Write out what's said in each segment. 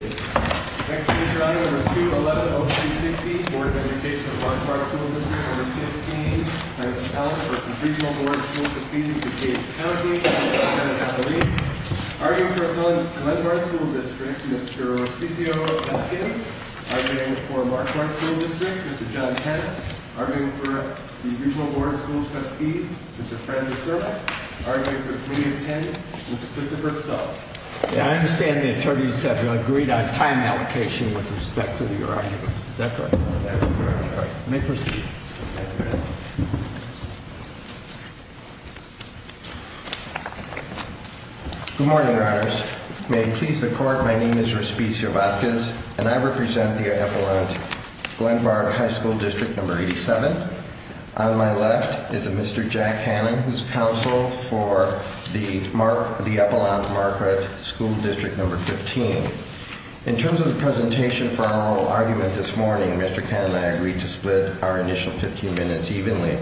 Next page, Your Honor, Number 2110360, Board of Education of Marquardt School District No. 15 v. Regional Board of School Trustees of DuPage County, Mr. Kenneth Hathaway Arguing for Glenmarsh School District, Mr. Ciccio Vasquez Arguing for Marquardt School District, Mr. John Kenneth Arguing for the Regional Board of School Trustees, Mr. Francis Sirleck Arguing for 3-10, Mr. Christopher Stull I understand the attorneys have agreed on time allocation with respect to your arguments. Is that correct? That is correct, Your Honor. You may proceed. Good morning, Your Honors. May it please the Court, my name is Raspi Sirleck and I represent the epaulant Glenmarsh High School District No. 87. On my left is a Mr. Jack Cannon, who is counsel for the epaulant Marquardt School District No. 15. In terms of the presentation for our oral argument this morning, Mr. Cannon and I agreed to split our initial 15 minutes evenly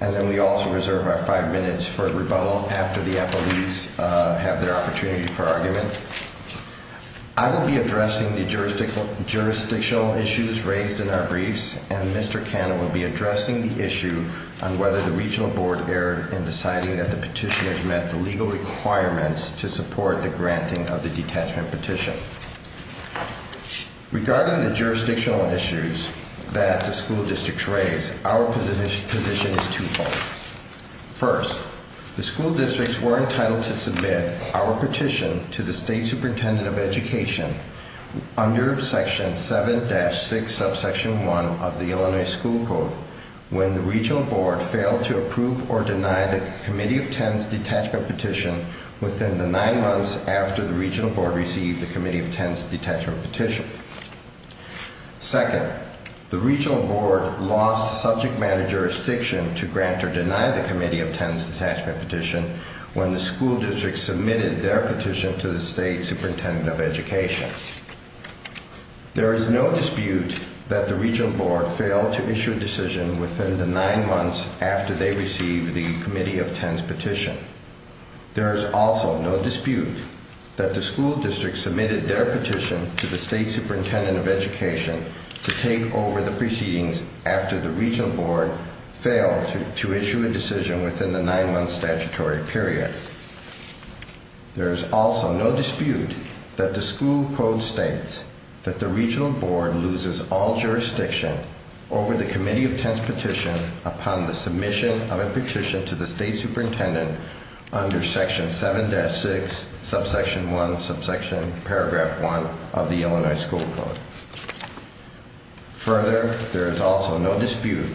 and then we also reserve our 5 minutes for rebuttal after the epaulees have their opportunity for argument. I will be addressing the jurisdictional issues raised in our briefs and Mr. Cannon will be addressing the issue on whether the Regional Board erred in deciding that the petitioners met the legal requirements to support the granting of the detachment petition. Regarding the jurisdictional issues that the school districts raised, our position is twofold. First, the school districts were entitled to submit our petition to the State Superintendent of Education under Section 7-6, Subsection 1 of the Illinois School Code when the Regional Board failed to approve or deny the Committee of Tenants detachment petition within the 9 months after the Regional Board received the Committee of Tenants detachment petition. Second, the Regional Board lost subject matter jurisdiction to grant or deny the Committee of Tenants detachment petition when the school districts submitted their petition to the State Superintendent of Education. There is no dispute that the Regional Board failed to issue a decision within the 9 months after they received the Committee of Tenants petition. There is also no dispute that the school districts submitted their petition to the State Superintendent of Education to take over the proceedings after the Regional Board failed to issue a decision within the 9-month statutory period. There is also no dispute that the school code states that the Regional Board loses all jurisdiction over the Committee of Tenants petition upon the submission of a petition to the State Superintendent under Section 7-6, Subsection 1, Subsection Paragraph 1 of the Illinois School Code. Further, there is also no dispute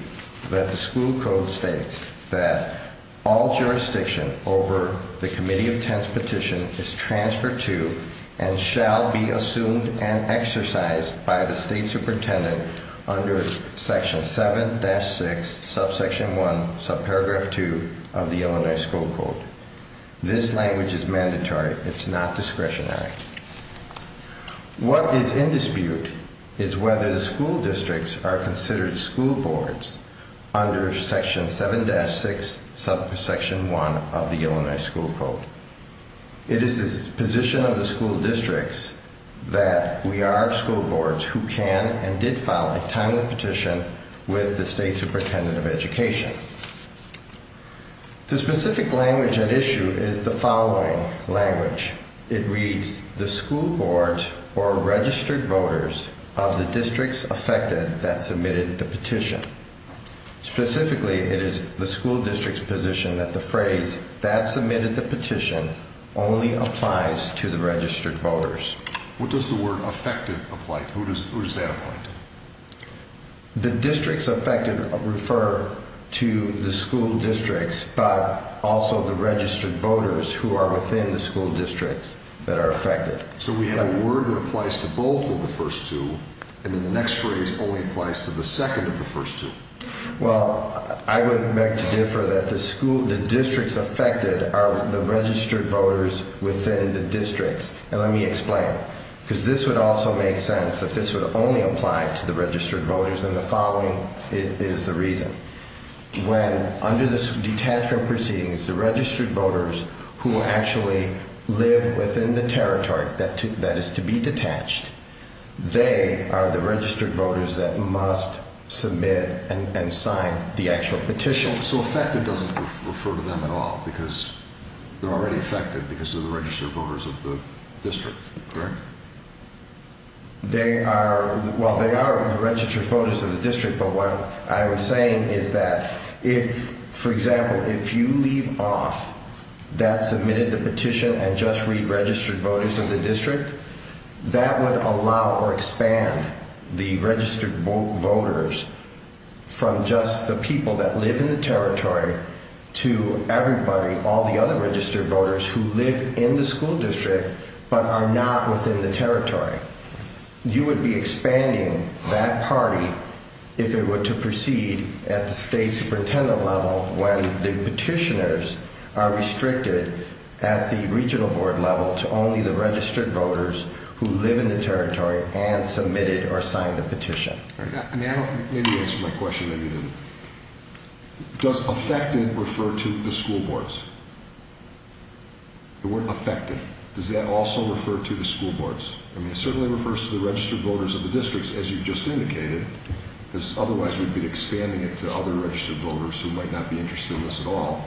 that the school code states that all jurisdiction over the Committee of Tenants petition is transferred to and shall be assumed and exercised by the State Superintendent under Section 7-6, Subsection 1, Subparagraph 2 of the Illinois School Code. This language is mandatory. It's not discretionary. What is in dispute is whether the school districts are considered school boards under Section 7-6, Subsection 1 of the Illinois School Code. It is the position of the school districts that we are school boards who can and did file a timely petition with the State Superintendent of Education. The specific language at issue is the following language. It reads, the school boards were registered voters of the districts affected that submitted the petition. Specifically, it is the school district's position that the phrase, that submitted the petition, only applies to the registered voters. What does the word affected apply to? Who does that apply to? The districts affected refer to the school districts, but also the registered voters So we have a word that applies to both of the first two, and then the next phrase only applies to the second of the first two. Well, I would beg to differ that the districts affected are the registered voters within the districts. And let me explain. Because this would also make sense that this would only apply to the registered voters, and the following is the reason. When under this detachment proceedings, the registered voters who actually live within the territory that is to be detached, they are the registered voters that must submit and sign the actual petition. So affected doesn't refer to them at all, because they're already affected because they're the registered voters of the district, correct? Well, they are the registered voters of the district, but what I'm saying is that, for example, if you leave off that submitted petition and just read registered voters of the district, that would allow or expand the registered voters from just the people that live in the territory to everybody, all the other registered voters who live in the school district, but are not within the territory. You would be expanding that party if it were to proceed at the state superintendent level when the petitioners are restricted at the regional board level to only the registered voters who live in the territory and submitted or signed a petition. Maybe you answered my question, maybe you didn't. Does affected refer to the school boards? It weren't affected. Does that also refer to the school boards? I mean, it certainly refers to the registered voters of the districts, as you've just indicated, because otherwise we'd be expanding it to other registered voters who might not be interested in this at all.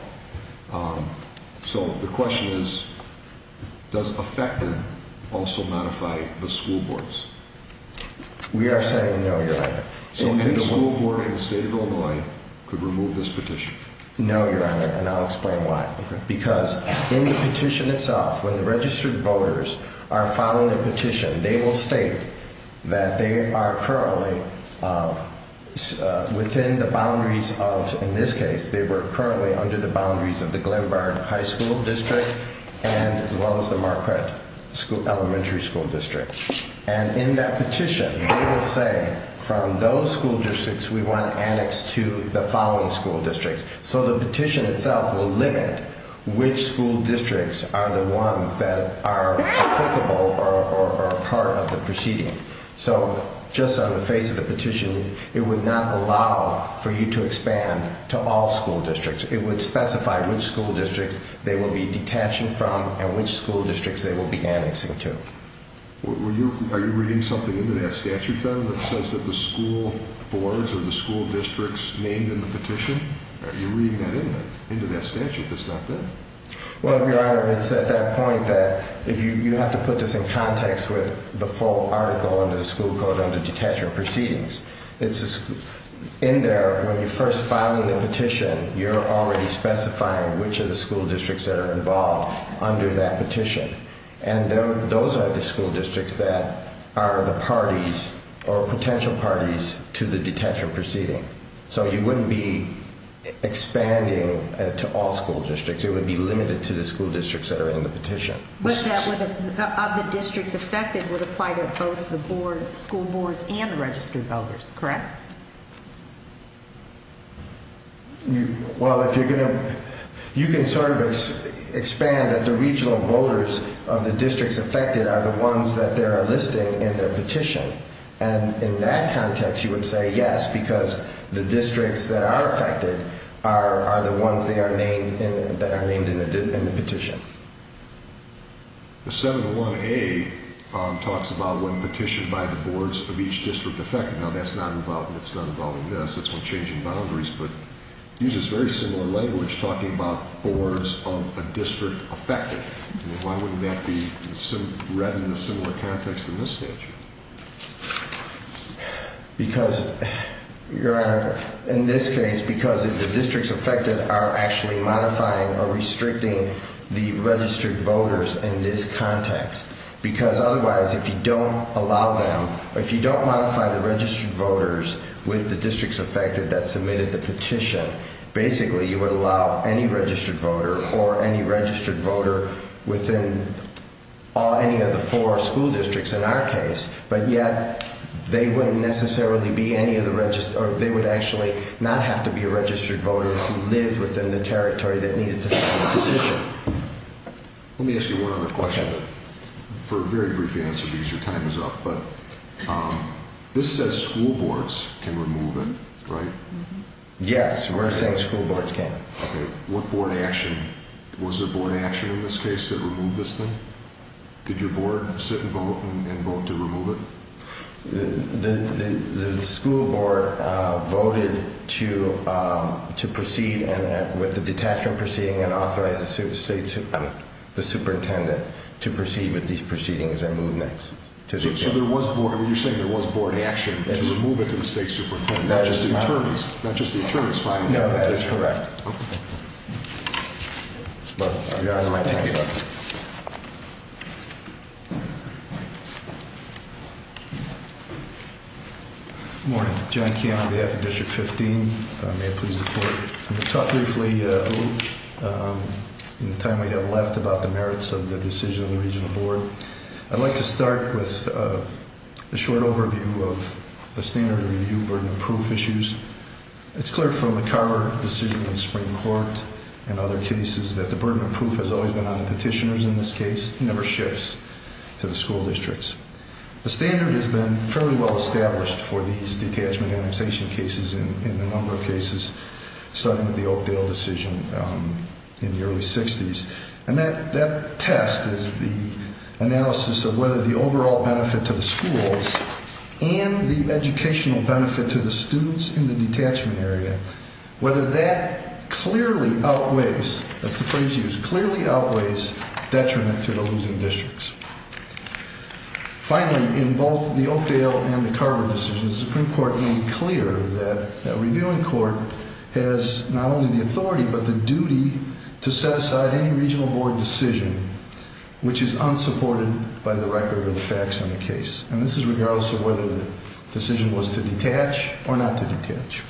So the question is, does affected also modify the school boards? We are saying no, Your Honor. So any school board in the state of Illinois could remove this petition? No, Your Honor, and I'll explain why. Because in the petition itself, when the registered voters are filing a petition, they will state that they are currently within the boundaries of, in this case, they were currently under the boundaries of the Glenburn High School District as well as the Marquette Elementary School District. And in that petition, they will say, from those school districts, we want to annex to the following school districts. So the petition itself will limit which school districts are the ones that are applicable or part of the proceeding. So just on the face of the petition, it would not allow for you to expand to all school districts. It would specify which school districts they will be detaching from and which school districts they will be annexing to. Are you reading something into that statute, then, that says that the school boards or the school districts named in the petition? Are you reading that into that statute that's not there? Well, Your Honor, it's at that point that you have to put this in context with the full article under the school code under detachment proceedings. In there, when you're first filing the petition, you're already specifying which of the school districts are involved under that petition. And those are the school districts that are the parties or potential parties to the detachment proceeding. So you wouldn't be expanding to all school districts. It would be limited to the school districts that are in the petition. But that would, of the districts affected, would apply to both the school boards and the registered voters, correct? Well, if you're going to... You can sort of expand that the regional voters of the districts affected are the ones that they are listing in their petition. And in that context, you would say yes, because the districts that are affected are the ones that are named in the petition. The 701A talks about when petitioned by the boards of each district affected. Now, that's not involved in this. It's not involved in this. It's with changing boundaries. But it uses very similar language talking about boards of a district affected. Why wouldn't that be read in a similar context in this statute? Because, Your Honor, in this case, because the districts affected are actually modifying or restricting the registered voters in this context. Because otherwise, if you don't allow them, if you don't modify the registered voters with the districts affected that submitted the petition, basically, you would allow any registered voter or any registered voter within any of the four school districts in our case. But yet, they wouldn't necessarily be any of the registered... They would actually not have to be a registered voter to live within the territory that needed to submit the petition. Let me ask you one other question for a very brief answer because your time is up. But this says school boards can remove it, right? Yes, we're saying school boards can. Okay. What board action? Was there board action in this case that removed this thing? Did your board sit and vote and vote to remove it? The school board voted to proceed with the detachment proceeding and authorized the superintendent to proceed with these proceedings and move next. So you're saying there was board action to remove it to the state superintendent? Not just the attorneys? No, that is correct. Your Honor, my time is up. Good morning. John Keon on behalf of District 15. May it please the Court. I'm going to talk briefly in the time we have left about the merits of the decision of the regional board. I'd like to start with a short overview of the standard review burden of proof issues. It's clear from the Carver decision in the Supreme Court and other cases that the burden of proof has always been on the petitioners in this case. It never shifts to the school districts. The standard has been fairly well established for these detachment annexation cases in a number of cases, starting with the Oakdale decision in the early 60s. And that test is the analysis of whether the overall benefit to the schools and the educational benefit to the students in the detachment area, whether that clearly outweighs, that's the phrase used, clearly outweighs detriment to the losing districts. Finally, in both the Oakdale and the Carver decisions, the Supreme Court made clear that a reviewing court has not only the authority but the duty to set aside any regional board decision which is unsupported by the record of the facts in the case. And this is regardless of whether the decision was to detach or not to detach.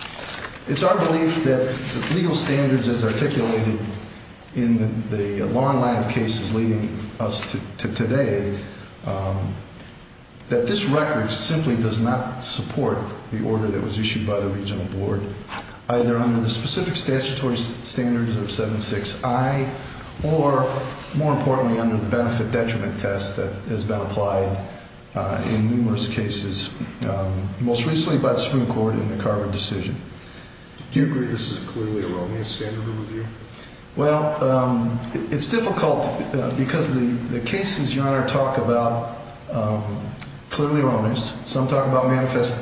It's our belief that legal standards, as articulated in the long line of cases leading us to today, that this record simply does not support the order that was issued by the regional board, either under the specific statutory standards of 7.6i or, more importantly, under the benefit detriment test that has been applied in numerous cases, most recently by the Supreme Court in the Carver decision. Do you agree this is a clearly erroneous standard of review? Well, it's difficult because the cases, Your Honor, talk about clearly erroneous. Some talk about manifest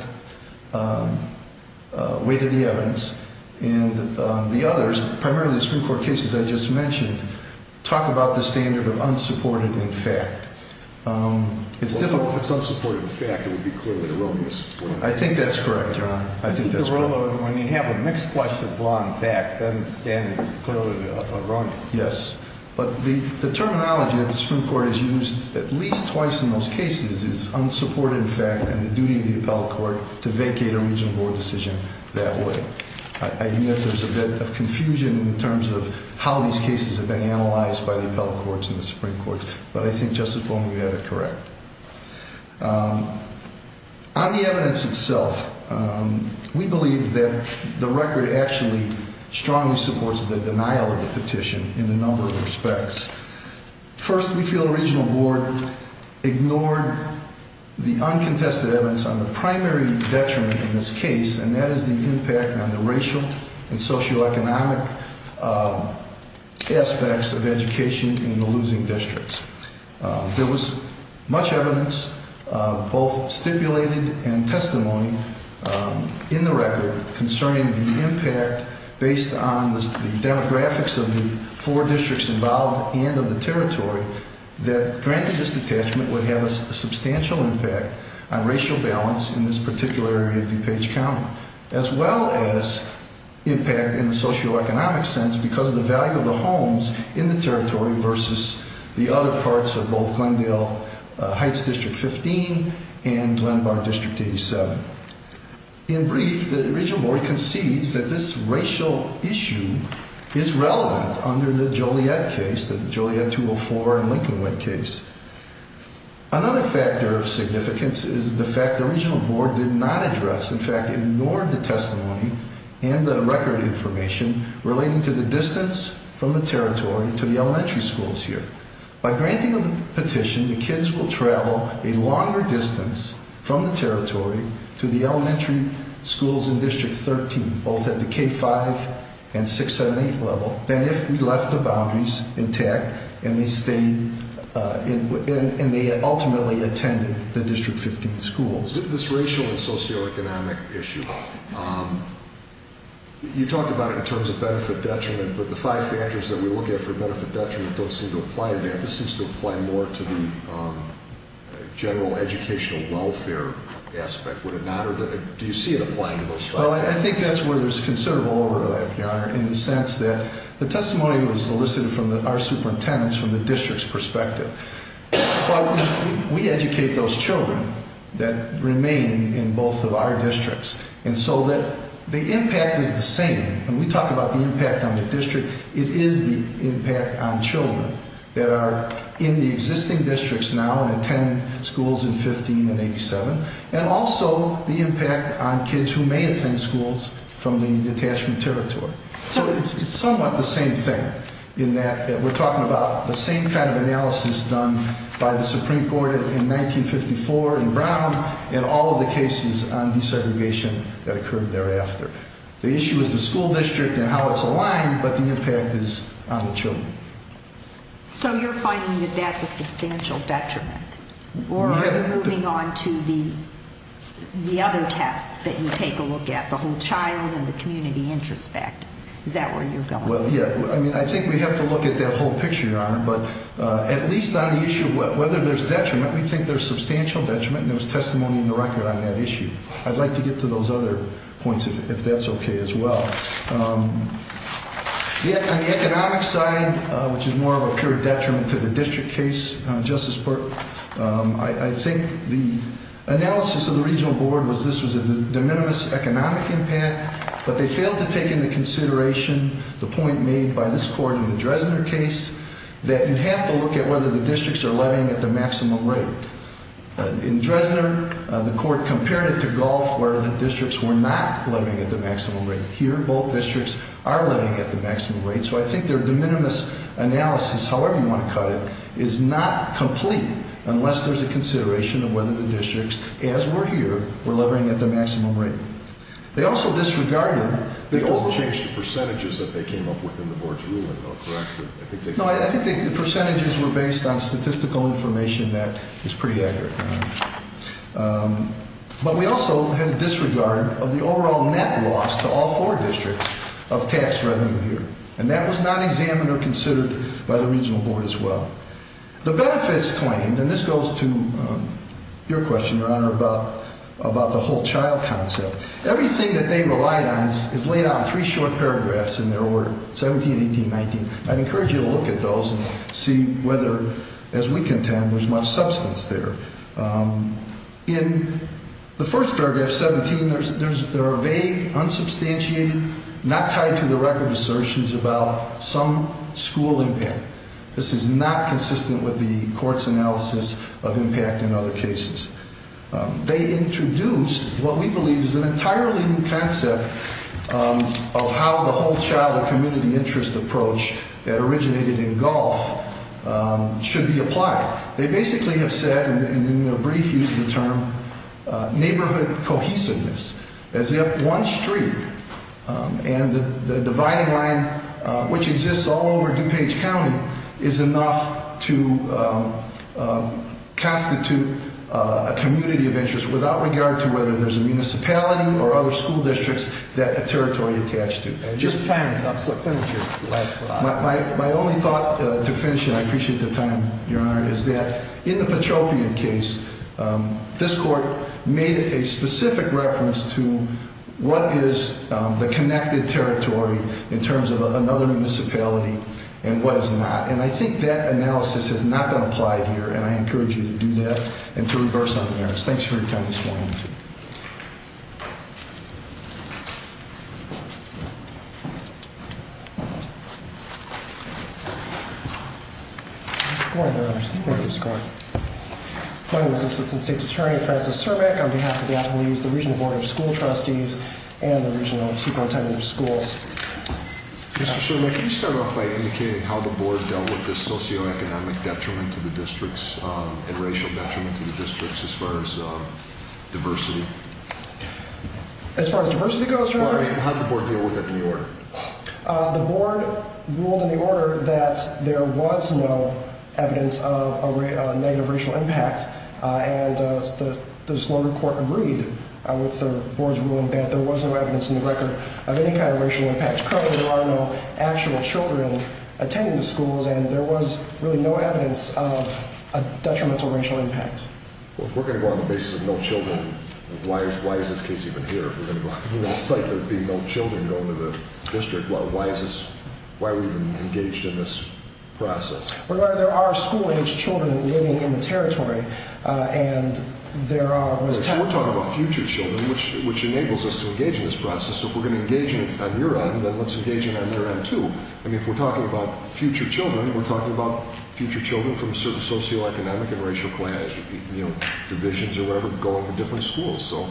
weight of the evidence. And the others, primarily the Supreme Court cases I just mentioned, talk about the standard of unsupported in fact. Well, if it's unsupported in fact, it would be clearly erroneous. I think that's correct, Your Honor. I think that's correct. When you have a mixed flush of law and fact, then the standard is clearly erroneous. Yes. But the terminology that the Supreme Court has used at least twice in those cases is unsupported in fact and the duty of the appellate court to vacate a regional board decision that way. I admit there's a bit of confusion in terms of how these cases have been analyzed by the appellate courts and the Supreme Courts. But I think, Justice Bowman, you have it correct. On the evidence itself, we believe that the record actually strongly supports the denial of the petition in a number of respects. First, we feel the regional board ignored the uncontested evidence on the primary detriment in this case, and that is the impact on the racial and socioeconomic aspects of education in the losing districts. There was much evidence, both stipulated and testimony, in the record concerning the impact based on the demographics of the four districts involved and of the territory that granted this detachment would have a substantial impact on racial balance in this particular area of DuPage County, as well as impact in the socioeconomic sense because of the value of the homes in the territory versus the other parts of both Glendale Heights District 15 and Glenbar District 87. In brief, the regional board concedes that this racial issue is relevant under the Joliet case, the Joliet 204 and Lincolnwood case. Another factor of significance is the fact the regional board did not address, in fact, relating to the distance from the territory to the elementary schools here. By granting the petition, the kids will travel a longer distance from the territory to the elementary schools in District 13, both at the K-5 and 6-7-8 level, than if we left the boundaries intact and they ultimately attended the District 15 schools. This racial and socioeconomic issue, you talked about it in terms of benefit detriment, but the five factors that we look at for benefit detriment don't seem to apply to that. This seems to apply more to the general educational welfare aspect, would it not? Do you see it applying to those five factors? I think that's where there's considerable overlap, Your Honor, in the sense that the testimony was elicited from our superintendents, from the district's perspective, but we educate those children that remain in both of our districts, and so the impact is the same. When we talk about the impact on the district, it is the impact on children that are in the existing districts now and attend schools in 15 and 87, and also the impact on kids who may attend schools from the detachment territory. So it's somewhat the same thing, in that we're talking about the same kind of analysis done by the Supreme Court in 1954 in Brown and all of the cases on desegregation that occurred thereafter. The issue is the school district and how it's aligned, but the impact is on the children. So you're finding that that's a substantial detriment? Or are you moving on to the other tests that you take a look at, the whole child and the community introspect? Is that where you're going? I think we have to look at that whole picture, Your Honor, but at least on the issue of whether there's detriment, we think there's substantial detriment, and there was testimony in the record on that issue. I'd like to get to those other points, if that's okay as well. On the economic side, which is more of a pure detriment to the district case, Justice Burke, I think the analysis of the regional board was this was a de minimis economic impact, but they failed to take into consideration the point made by this court in the Dresdner case that you have to look at whether the districts are levying at the maximum rate. In Dresdner, the court compared it to Gulf, where the districts were not levying at the maximum rate. Here, both districts are levying at the maximum rate, so I think their de minimis analysis, however you want to cut it, is not complete unless there's a consideration of whether the districts, as we're here, were levying at the maximum rate. They also disregarded... They also changed the percentages that they came up with in the board's ruling, though, correct? No, I think the percentages were based on statistical information that is pretty accurate. But we also had a disregard of the overall net loss to all four districts of tax revenue here, and that was not examined or considered by the regional board as well. The benefits claimed, and this goes to your question, Your Honor, about the whole child concept, everything that they relied on is laid out in three short paragraphs in their order, 17, 18, 19. I'd encourage you to look at those and see whether, as we contend, there's much substance there. In the first paragraph, 17, there are vague, unsubstantiated, not tied-to-the-record assertions about some school impact. This is not consistent with the court's analysis of impact in other cases. They introduced what we believe is an entirely new concept of how the whole child or community interest approach that originated in Gulf should be applied. They basically have said, and in a brief use of the term, neighborhood cohesiveness, as if one street and the dividing line which exists all over DuPage County is enough to constitute a community of interest without regard to whether there's a municipality or other school districts that a territory attached to. Your time is up, so finish your last slide. My only thought to finish, and I appreciate the time, Your Honor, is that in the Petropian case, this court made a specific reference to what is the connected territory in terms of another municipality and what is not. I think that analysis has not been applied here, and I encourage you to do that and to reverse on the merits. Thanks for your time this morning. Thank you. My name is Assistant State's Attorney Francis Cermak. On behalf of the attorneys, the regional board of school trustees, and the regional superintendent of schools. Mr. Cermak, can you start off by indicating how the board dealt with the socioeconomic detriment to the districts and racial detriment to the districts as far as diversity? As far as diversity goes, Your Honor? How did the board deal with it in the order? The board ruled in the order that there was no evidence of a negative racial impact, and the disloyal court agreed with the board's ruling that there was no evidence in the record of any kind of racial impact. Currently, there are no actual children attending the schools, and there was really no evidence of a detrimental racial impact. Well, if we're going to go on the basis of no children, why is this case even here? If we're going to go on the site, there would be no children going to the district. Why are we even engaged in this process? Well, Your Honor, there are school-aged children living in the territory, and there are... So we're talking about future children, which enables us to engage in this process. So if we're going to engage on your end, then let's engage on their end, too. I mean, if we're talking about future children, we're talking about future children from certain socioeconomic and racial divisions or whatever going to different schools. So,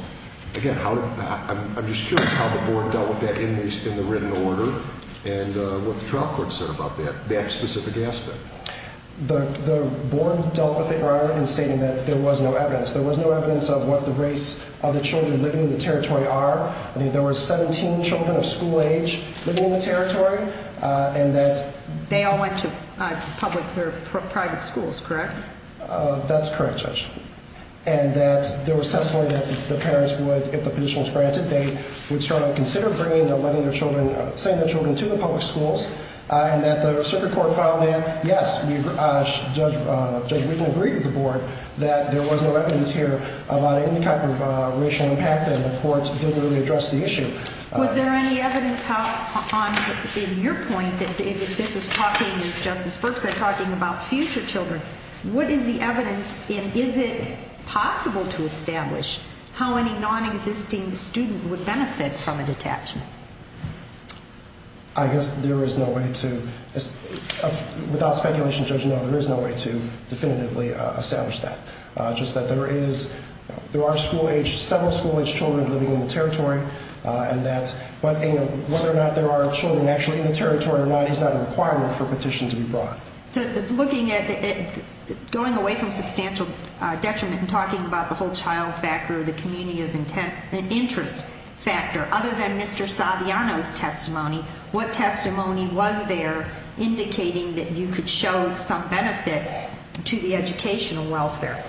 again, I'm just curious how the board dealt with that in the written order and what the trial court said about that specific aspect. The board dealt with it, Your Honor, in stating that there was no evidence. There was no evidence of what the race of the children living in the territory are. There were 17 children of school age living in the territory, and that... They all went to public or private schools, correct? That's correct, Judge. And that there was testimony that the parents would, if the petition was granted, they would sort of consider bringing or letting their children, sending their children to the public schools, and that the circuit court found that, yes, Judge Wheaton agreed with the board that there was no evidence here about any type of racial impact, and the court didn't really address the issue. Was there any evidence in your point that this is talking, as Justice Berks said, talking about future children? What is the evidence, and is it possible to establish how any non-existing student would benefit from a detachment? I guess there is no way to... Just that there are several school-age children living in the territory, and that whether or not there are children actually in the territory or not is not a requirement for a petition to be brought. Looking at it, going away from substantial detriment and talking about the whole child factor, the community of interest factor, other than Mr. Saviano's testimony, what testimony was there indicating that you could show some benefit to the educational welfare?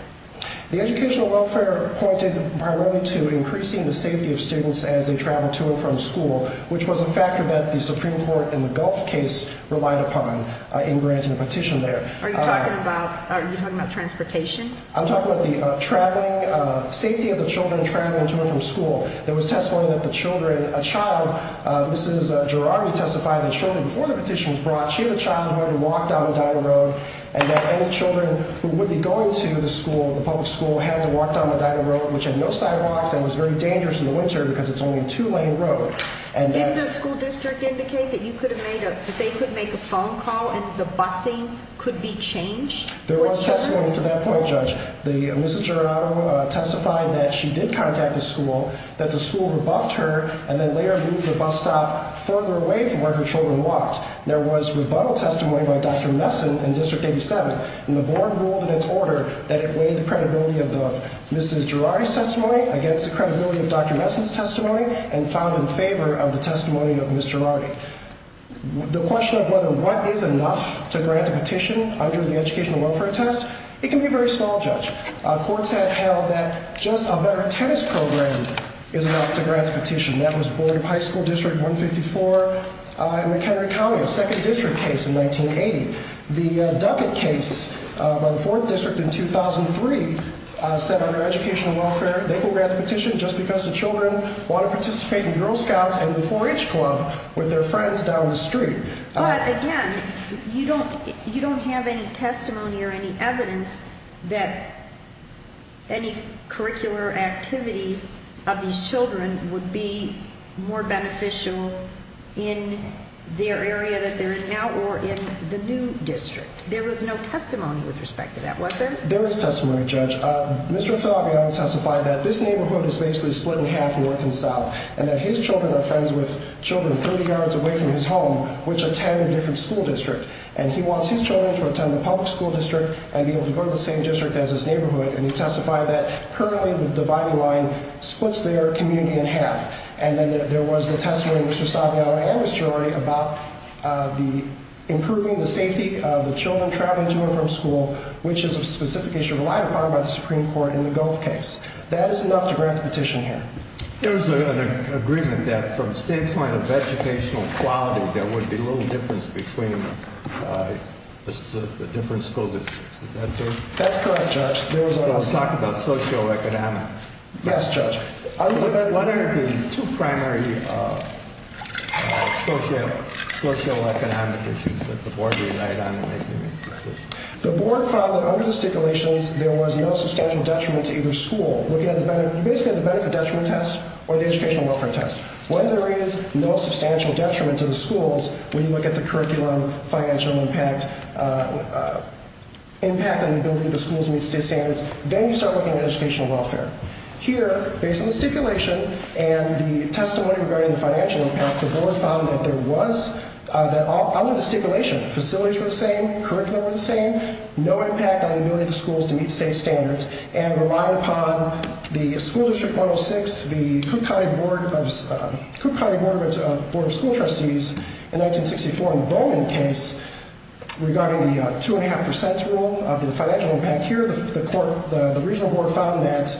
The educational welfare pointed primarily to increasing the safety of students as they travel to and from school, which was a factor that the Supreme Court in the Gulf case relied upon in granting the petition there. Are you talking about transportation? I'm talking about the safety of the children traveling to and from school. There was testimony that the children, a child, Mrs. Girardi testified that shortly before the petition was brought, she had a child who had to walk down the Dinah Road, and that any children who would be going to the school, the public school, had to walk down the Dinah Road, which had no sidewalks and was very dangerous in the winter because it's only a two-lane road. Did the school district indicate that they could make a phone call and the busing could be changed? There was testimony to that point, Judge. Mrs. Girardi testified that she did contact the school, that the school rebuffed her, and then later moved the bus stop further away from where her children walked. There was rebuttal testimony by Dr. Messon in District 87, and the board ruled in its order that it weighed the credibility of Mrs. Girardi's testimony against the credibility of Dr. Messon's testimony and filed in favor of the testimony of Mrs. Girardi. The question of whether what is enough to grant a petition under the Educational Welfare Test, it can be very small, Judge. Courts have held that just a better tennis program is enough to grant a petition. That was Board of High School District 154 in McHenry County, a second district case in 1980. The Duckett case by the 4th District in 2003 said under Educational Welfare they can grant a petition just because the children want to participate in Girl Scouts and the 4-H Club with their friends down the street. But, again, you don't have any testimony or any evidence that any curricular activities of these children would be more beneficial in their area that they're in now or in the new district. There was no testimony with respect to that, was there? There was testimony, Judge. Mr. Saviano testified that this neighborhood is basically split in half north and south and that his children are friends with children 30 yards away from his home which attend a different school district. And he wants his children to attend the public school district and be able to go to the same district as his neighborhood. And he testified that currently the dividing line splits their community in half. And then there was the testimony of Mr. Saviano and Mrs. Girardi about improving the safety of the children traveling to and from school, which is a specification relied upon by the Supreme Court in the Gove case. That is enough to grant the petition here. There was an agreement that from the standpoint of educational quality there would be little difference between the different school districts. Is that true? That's correct, Judge. So let's talk about socioeconomic. Yes, Judge. What are the two primary socioeconomic issues that the Board relied on in making this decision? The Board found that under the stipulations there was no substantial detriment to either school. You basically have the benefit-detriment test or the educational welfare test. When there is no substantial detriment to the schools, when you look at the curriculum, financial impact, impact on the ability of the schools to meet state standards, then you start looking at educational welfare. Here, based on the stipulation and the testimony regarding the financial impact, the Board found that there was, under the stipulation, facilities were the same, curriculum were the same, no impact on the ability of the schools to meet state standards, and relied upon the School District 106, the Cook County Board of School Trustees in 1964 in the Bowman case, regarding the 2.5% rule of the financial impact. Here, the Regional Board found that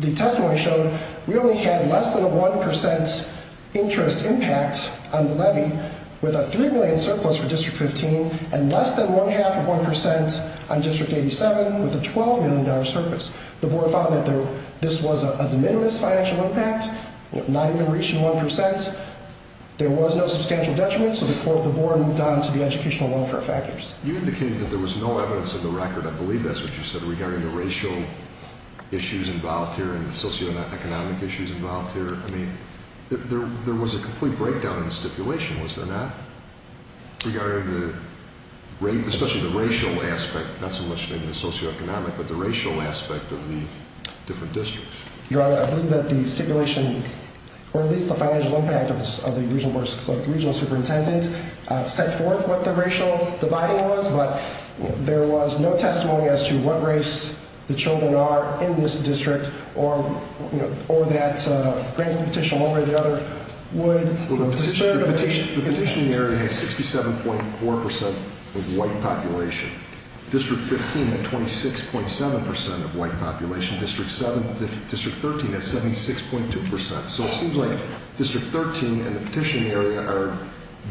the testimony showed we only had less than a 1% interest impact on the levy, with a $3 million surplus for District 15, and less than one-half of 1% on District 87, with a $12 million surplus. The Board found that this was a de minimis financial impact, not even reaching 1%. There was no substantial detriment, so the Board moved on to the educational welfare factors. You indicated that there was no evidence in the record, I believe that's what you said, regarding the racial issues involved here and the socioeconomic issues involved here. I mean, there was a complete breakdown in the stipulation, was there not? Regarding the racial, especially the racial aspect, not so much the socioeconomic, but the racial aspect of the different districts. Your Honor, I believe that the stipulation, or at least the financial impact of the Regional Board, did set forth what the racial dividing was, but there was no testimony as to what race the children are in this district, or that granting a petition one way or the other would disturb the patient. The petitioning area has 67.4% of white population. District 15 had 26.7% of white population. District 13 has 76.2%. So it seems like District 13 and the petitioning area are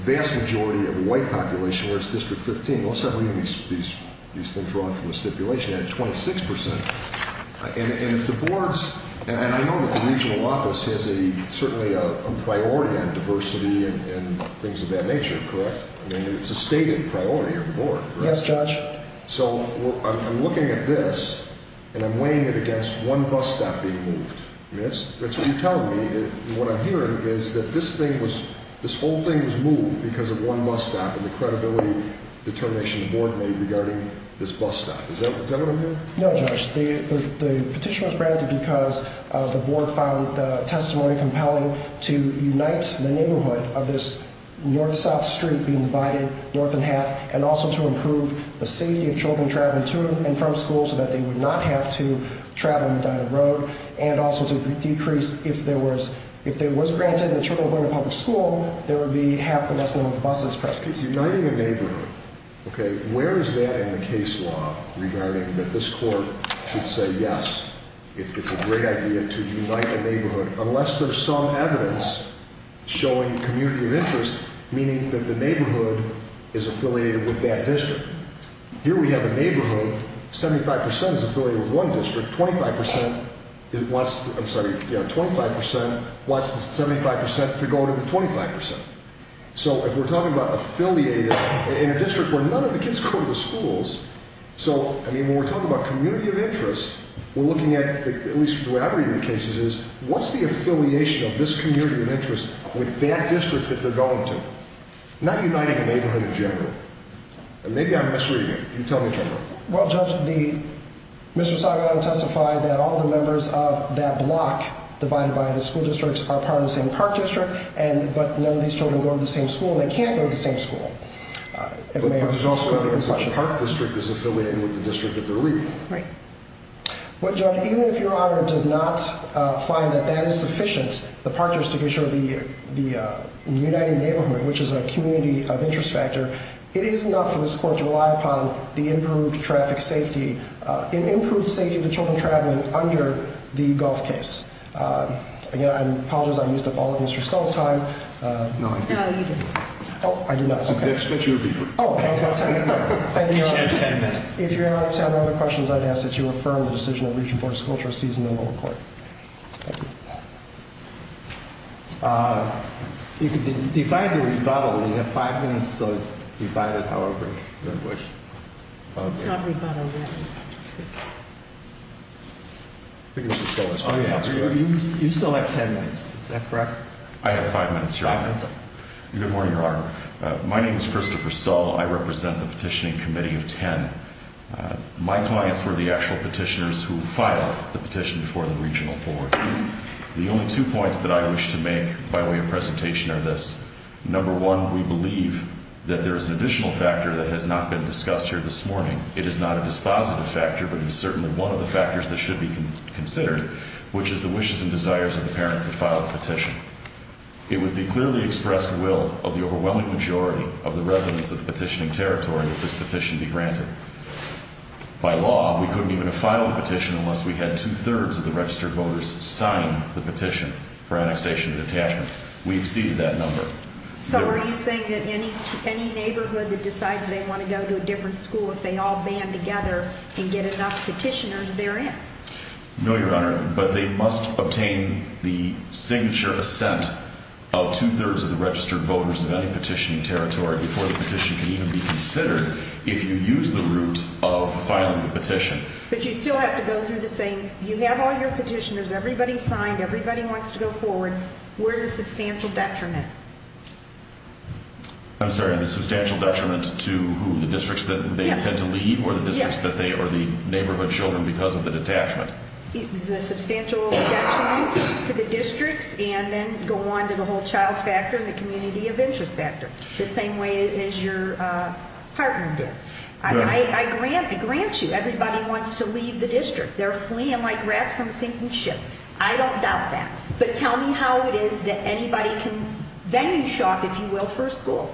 vast majority of the white population, whereas District 15, let's not read these things drawn from the stipulation, had 26%. And if the Board's, and I know that the Regional Office has certainly a priority on diversity and things of that nature, correct? I mean, it's a stated priority of the Board, correct? Yes, Judge. So I'm looking at this, and I'm weighing it against one bus stop being moved. Miss, that's what you're telling me. What I'm hearing is that this thing was, this whole thing was moved because of one bus stop, and the credibility determination the Board made regarding this bus stop. Is that what I'm hearing? No, Judge. The petition was granted because the Board found the testimony compelling to unite the neighborhood of this north-south street being divided north in half, and also to improve the safety of children traveling to and from school so that they would not have to travel down the road, and also to decrease, if there was, if it was granted that children were going to public school, there would be half the number of buses present. Uniting a neighborhood, okay, where is that in the case law regarding that this Court should say, yes, it's a great idea to unite the neighborhood, unless there's some evidence showing community of interest, meaning that the neighborhood is affiliated with that district. Here we have a neighborhood, 75 percent is affiliated with one district, 25 percent wants the 75 percent to go to the 25 percent. So if we're talking about affiliating in a district where none of the kids go to the schools, so, I mean, when we're talking about community of interest, we're looking at, at least the way I read the cases, is what's the affiliation of this community of interest with that district that they're going to? Not uniting a neighborhood in general, and maybe I'm misreading it, you tell me, Kevin. Well, Judge, Mr. Sagao testified that all the members of that block divided by the school districts are part of the same park district, but none of these children go to the same school, they can't go to the same school. But there's also evidence that the park district is affiliated with the district that they're reading. Right. Well, Judge, even if Your Honor does not find that that is sufficient, the park district issue of the uniting neighborhood, which is a community of interest factor, it is enough for this court to rely upon the improved traffic safety, an improved safety of the children traveling under the golf case. Again, I apologize, I used up all of Mr. Stull's time. No, you didn't. Oh, I do not, okay. That should be brief. Oh, okay. Thank you, Your Honor. You have ten minutes. If Your Honor has any other questions, I'd ask that you affirm the decision that Region 4 school trustees and the lower court. Thank you. You can divide the rebuttal. You have five minutes to divide it however you wish. Let's not rebuttal yet. I think Mr. Stull has five minutes. You still have ten minutes. Is that correct? I have five minutes, Your Honor. Five minutes. Good morning, Your Honor. My name is Christopher Stull. I represent the petitioning committee of ten. My clients were the actual petitioners who filed the petition before the regional board. The only two points that I wish to make by way of presentation are this. Number one, we believe that there is an additional factor that has not been discussed here this morning. It is not a dispositive factor, but it is certainly one of the factors that should be considered, which is the wishes and desires of the parents that filed the petition. It was the clearly expressed will of the overwhelming majority of the residents of the petitioning territory that this petition be granted. By law, we couldn't even have filed the petition unless we had two-thirds of the registered voters sign the petition for annexation and detachment. We exceeded that number. So are you saying that any neighborhood that decides they want to go to a different school, if they all band together and get enough petitioners, they're in? No, Your Honor, but they must obtain the signature assent of two-thirds of the registered voters of any petitioning territory before the petition can even be considered. If you use the route of filing the petition. But you still have to go through the same. You have all your petitioners. Everybody signed. Everybody wants to go forward. Where's the substantial detriment? I'm sorry. The substantial detriment to who? The districts that they intend to leave or the districts that they or the neighborhood children because of the detachment? The substantial detriment to the districts and then go on to the whole child factor and the community of interest factor. The same way as your partner did. I grant you everybody wants to leave the district. They're fleeing like rats from a sinking ship. I don't doubt that. But tell me how it is that anybody can venue shop, if you will, for a school.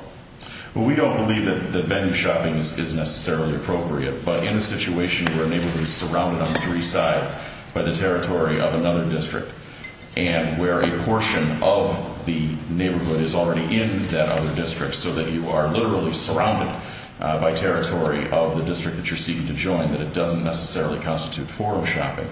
Well, we don't believe that the venue shopping is necessarily appropriate. But in a situation where a neighborhood is surrounded on three sides by the territory of another district and where a portion of the neighborhood is already in that other district so that you are literally surrounded by territory of the district that you're seeking to join, that it doesn't necessarily constitute for a shopping.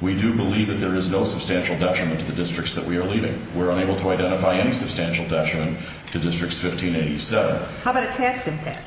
We do believe that there is no substantial detriment to the districts that we are leaving. We're unable to identify any substantial detriment to districts 1587. How about a tax impact?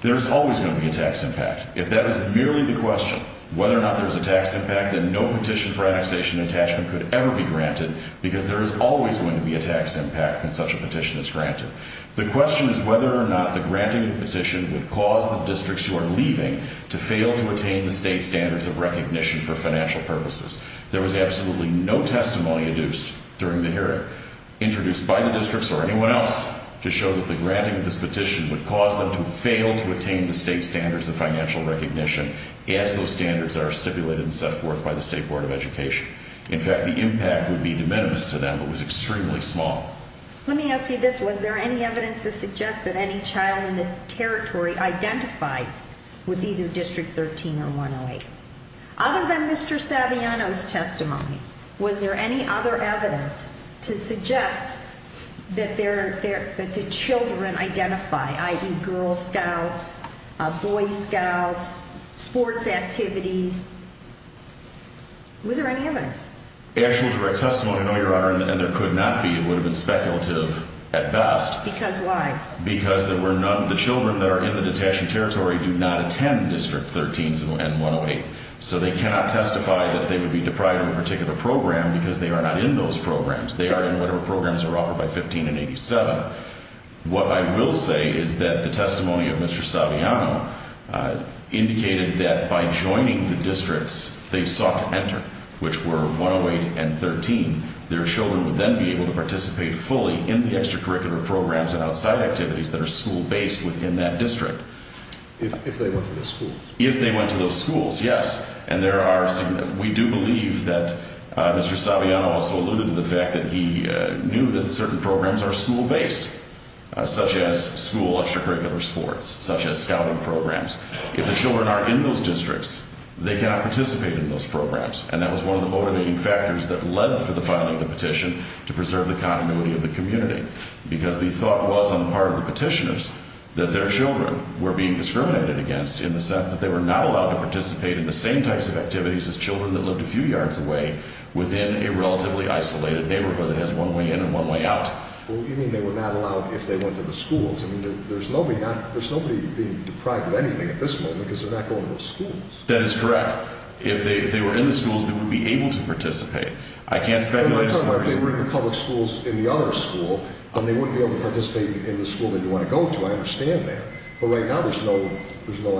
There is always going to be a tax impact. If that is merely the question, whether or not there's a tax impact, then no petition for annexation and attachment could ever be granted because there is always going to be a tax impact when such a petition is granted. The question is whether or not the granting of the petition would cause the districts who are leaving to fail to attain the state standards of recognition for financial purposes. There was absolutely no testimony induced during the hearing introduced by the districts or anyone else to show that the granting of this petition would cause them to fail to attain the state standards of financial recognition as those standards are stipulated and set forth by the State Board of Education. In fact, the impact would be de minimis to them, but was extremely small. Let me ask you this. Was there any evidence to suggest that any child in the territory identifies with either District 13 or 108? Other than Mr. Saviano's testimony, was there any other evidence to suggest that the children identify, i.e., Girl Scouts, Boy Scouts, sports activities? Was there any evidence? Actual direct testimony, no, Your Honor, and there could not be. It would have been speculative at best. Because why? Because there were none of the children that are in the detachment territory do not attend District 13 and 108. So they cannot testify that they would be deprived of a particular program because they are not in those programs. They are in whatever programs are offered by 15 and 87. What I will say is that the testimony of Mr. Saviano indicated that by joining the districts they sought to enter, which were 108 and 13, their children would then be able to participate fully in the extracurricular programs and outside activities that are school-based within that district. If they went to those schools? If they went to those schools, yes. We do believe that Mr. Saviano also alluded to the fact that he knew that certain programs are school-based, such as school extracurricular sports, such as scouting programs. If the children aren't in those districts, they cannot participate in those programs. And that was one of the motivating factors that led to the filing of the petition to preserve the continuity of the community. Because the thought was on the part of the petitioners that their children were being discriminated against in the sense that they were not allowed to participate in the same types of activities as children that lived a few yards away within a relatively isolated neighborhood that has one way in and one way out. Well, what do you mean they were not allowed if they went to the schools? I mean, there's nobody being deprived of anything at this moment because they're not going to those schools. That is correct. If they were in the schools, they would be able to participate. If they were in the public schools in the other school, then they wouldn't be able to participate in the school that you want to go to. I understand that. But right now, there's no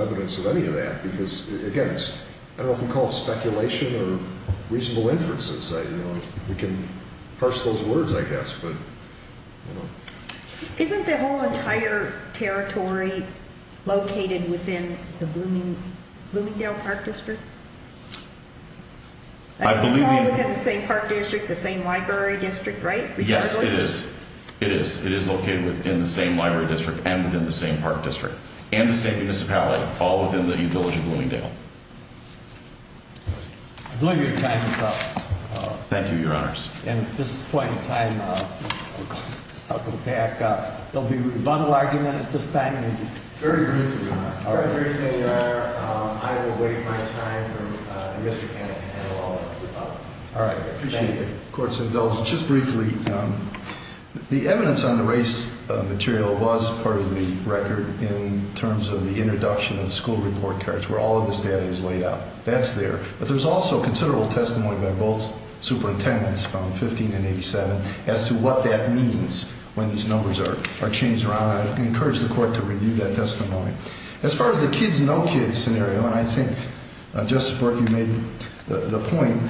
evidence of any of that because, again, I don't know if you'd call it speculation or reasonable inferences. We can parse those words, I guess. Isn't the whole entire territory located within the Bloomingdale Park District? I believe— It's located within the same park district, the same library district, right? Yes, it is. It is. It is located within the same library district and within the same park district and the same municipality, all within the U-Village of Bloomingdale. I believe your time is up. Thank you, Your Honors. At this point in time, I'll go back. There'll be rebuttal argument at this time. Very briefly, Your Honor. I will waive my time from the risk of having to handle all of this. All right. I appreciate the court's indulgence. Just briefly, the evidence on the race material was part of the record in terms of the introduction of the school report cards where all of this data is laid out. That's there. But there's also considerable testimony by both superintendents from 15 and 87 as to what that means when these numbers are changed around. I encourage the court to review that testimony. As far as the kids, no kids scenario, and I think, Justice Burke, you made the point,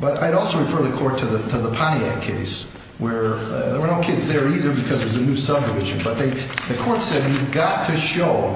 but I'd also refer the court to the Pontiac case where there were no kids there either because there's a new subdivision. But the court said you've got to show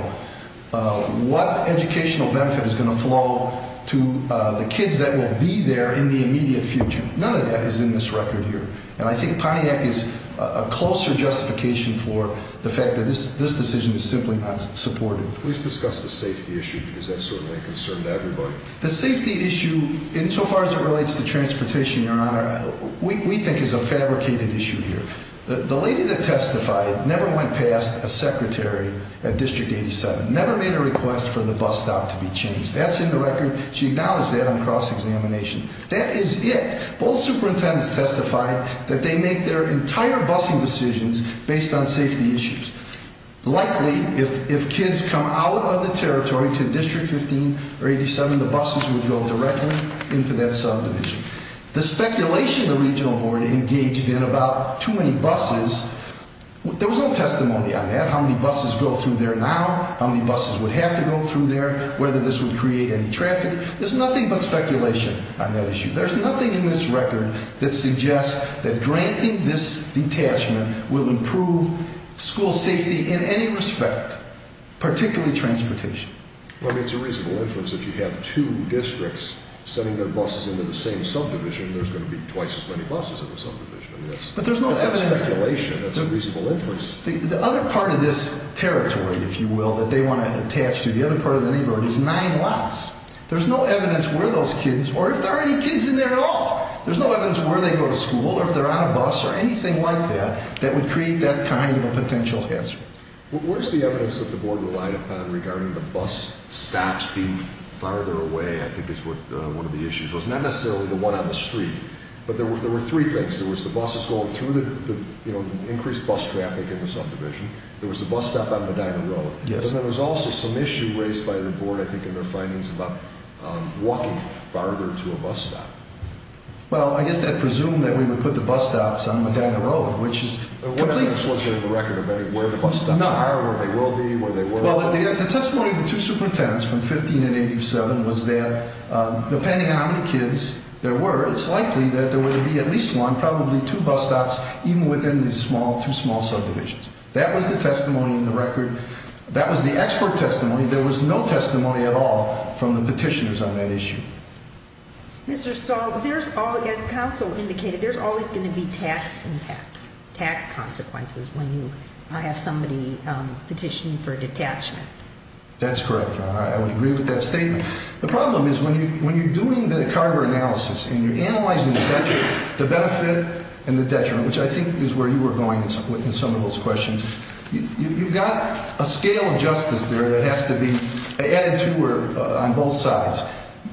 what educational benefit is going to flow to the kids that will be there in the immediate future. None of that is in this record here. And I think Pontiac is a closer justification for the fact that this decision is simply not supported. Please discuss the safety issue because that's certainly a concern to everybody. The safety issue, insofar as it relates to transportation, Your Honor, we think is a fabricated issue here. The lady that testified never went past a secretary at District 87, never made a request for the bus stop to be changed. That's in the record. She acknowledged that on cross-examination. That is it. Both superintendents testified that they make their entire busing decisions based on safety issues. Likely, if kids come out of the territory to District 15 or 87, the buses would go directly into that subdivision. The speculation the regional board engaged in about too many buses, there was no testimony on that, how many buses go through there now, how many buses would have to go through there, whether this would create any traffic. There's nothing but speculation on that issue. There's nothing in this record that suggests that granting this detachment will improve school safety in any respect, particularly transportation. I mean, it's a reasonable inference if you have two districts sending their buses into the same subdivision, there's going to be twice as many buses in the subdivision. But there's no evidence. That's speculation. That's a reasonable inference. The other part of this territory, if you will, that they want to attach to, the other part of the neighborhood, is nine lots. There's no evidence where those kids, or if there are any kids in there at all, there's no evidence where they go to school or if they're on a bus or anything like that that would create that kind of a potential hazard. Where's the evidence that the board relied upon regarding the bus stops being farther away, I think is what one of the issues was. Not necessarily the one on the street, but there were three things. There was the buses going through the, you know, increased bus traffic in the subdivision. There was the bus stop on Medina Road. Yes. And there was also some issue raised by the board, I think, in their findings about walking farther to a bus stop. Well, I guess they presumed that we would put the bus stops on Medina Road, which is completely... What evidence was there in the record of where the bus stops are, where they will be, where they will not be? Well, the testimony of the two superintendents from 15 and 87 was that depending on how many kids there were, it's likely that there would be at least one, probably two bus stops even within these two small subdivisions. That was the testimony in the record. That was the expert testimony. There was no testimony at all from the petitioners on that issue. Mr. Stahl, there's always, as counsel indicated, there's always going to be tax impacts, tax consequences when you have somebody petitioning for detachment. That's correct, Your Honor. I would agree with that statement. The problem is when you're doing the Carver analysis and you're analyzing the detriment, the benefit and the detriment, which I think is where you were going in some of those questions, you've got a scale of justice there that has to be added to on both sides.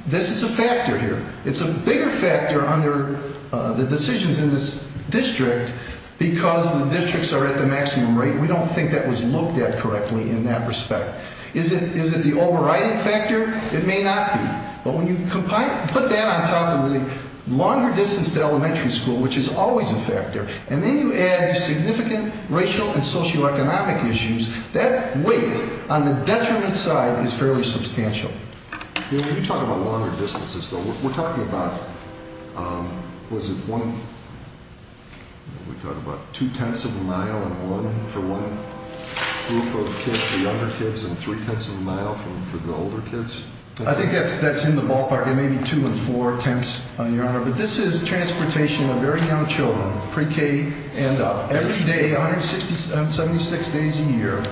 This is a factor here. It's a bigger factor under the decisions in this district because the districts are at the maximum rate. We don't think that was looked at correctly in that respect. Is it the overriding factor? It may not be. But when you put that on top of the longer distance to elementary school, which is always a factor, and then you add the significant racial and socioeconomic issues, that weight on the detriment side is fairly substantial. When you talk about longer distances, though, we're talking about, was it one, we talked about two-tenths of a mile for one group of kids, the younger kids, and three-tenths of a mile for the older kids? I think that's in the ballpark. It may be two and four-tenths, Your Honor. But this is transportation of very young children, pre-K and up. Every day, 176 days a year,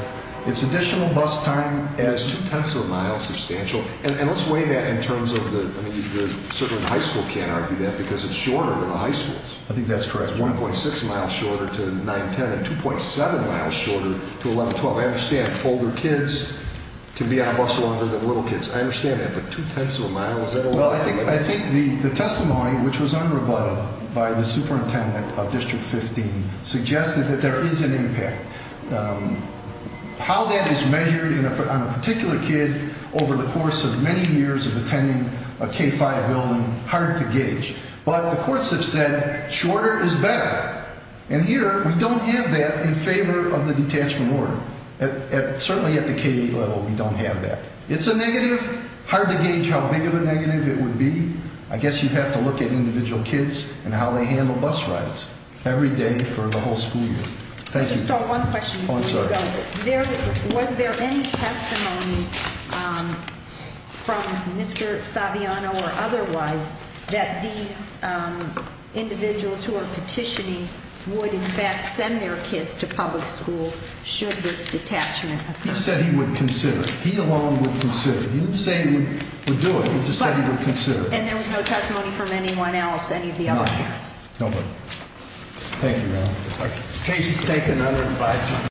it's additional bus time as two-tenths of a mile substantial. And let's weigh that in terms of the, certainly the high school can't argue that because it's shorter than the high schools. I think that's correct. 1.6 miles shorter to 9-10 and 2.7 miles shorter to 11-12. I understand older kids can be on a bus longer than little kids. I understand that. Well, I think the testimony, which was unrebutted by the superintendent of District 15, suggested that there is an impact. How that is measured on a particular kid over the course of many years of attending a K-5 building, hard to gauge. But the courts have said shorter is better. And here, we don't have that in favor of the detachment order. Certainly at the K-8 level, we don't have that. It's a negative. Hard to gauge how big of a negative it would be. I guess you have to look at individual kids and how they handle bus rides every day for the whole school year. Thank you. Just one question. Oh, I'm sorry. Was there any testimony from Mr. Saviano or otherwise that these individuals who are petitioning would in fact send their kids to public school should this detachment occur? He said he would consider. He alone would consider. He didn't say he would do it. He just said he would consider. And there was no testimony from anyone else, any of the other parents? Nobody. Thank you, ma'am. Case is taken under advisement.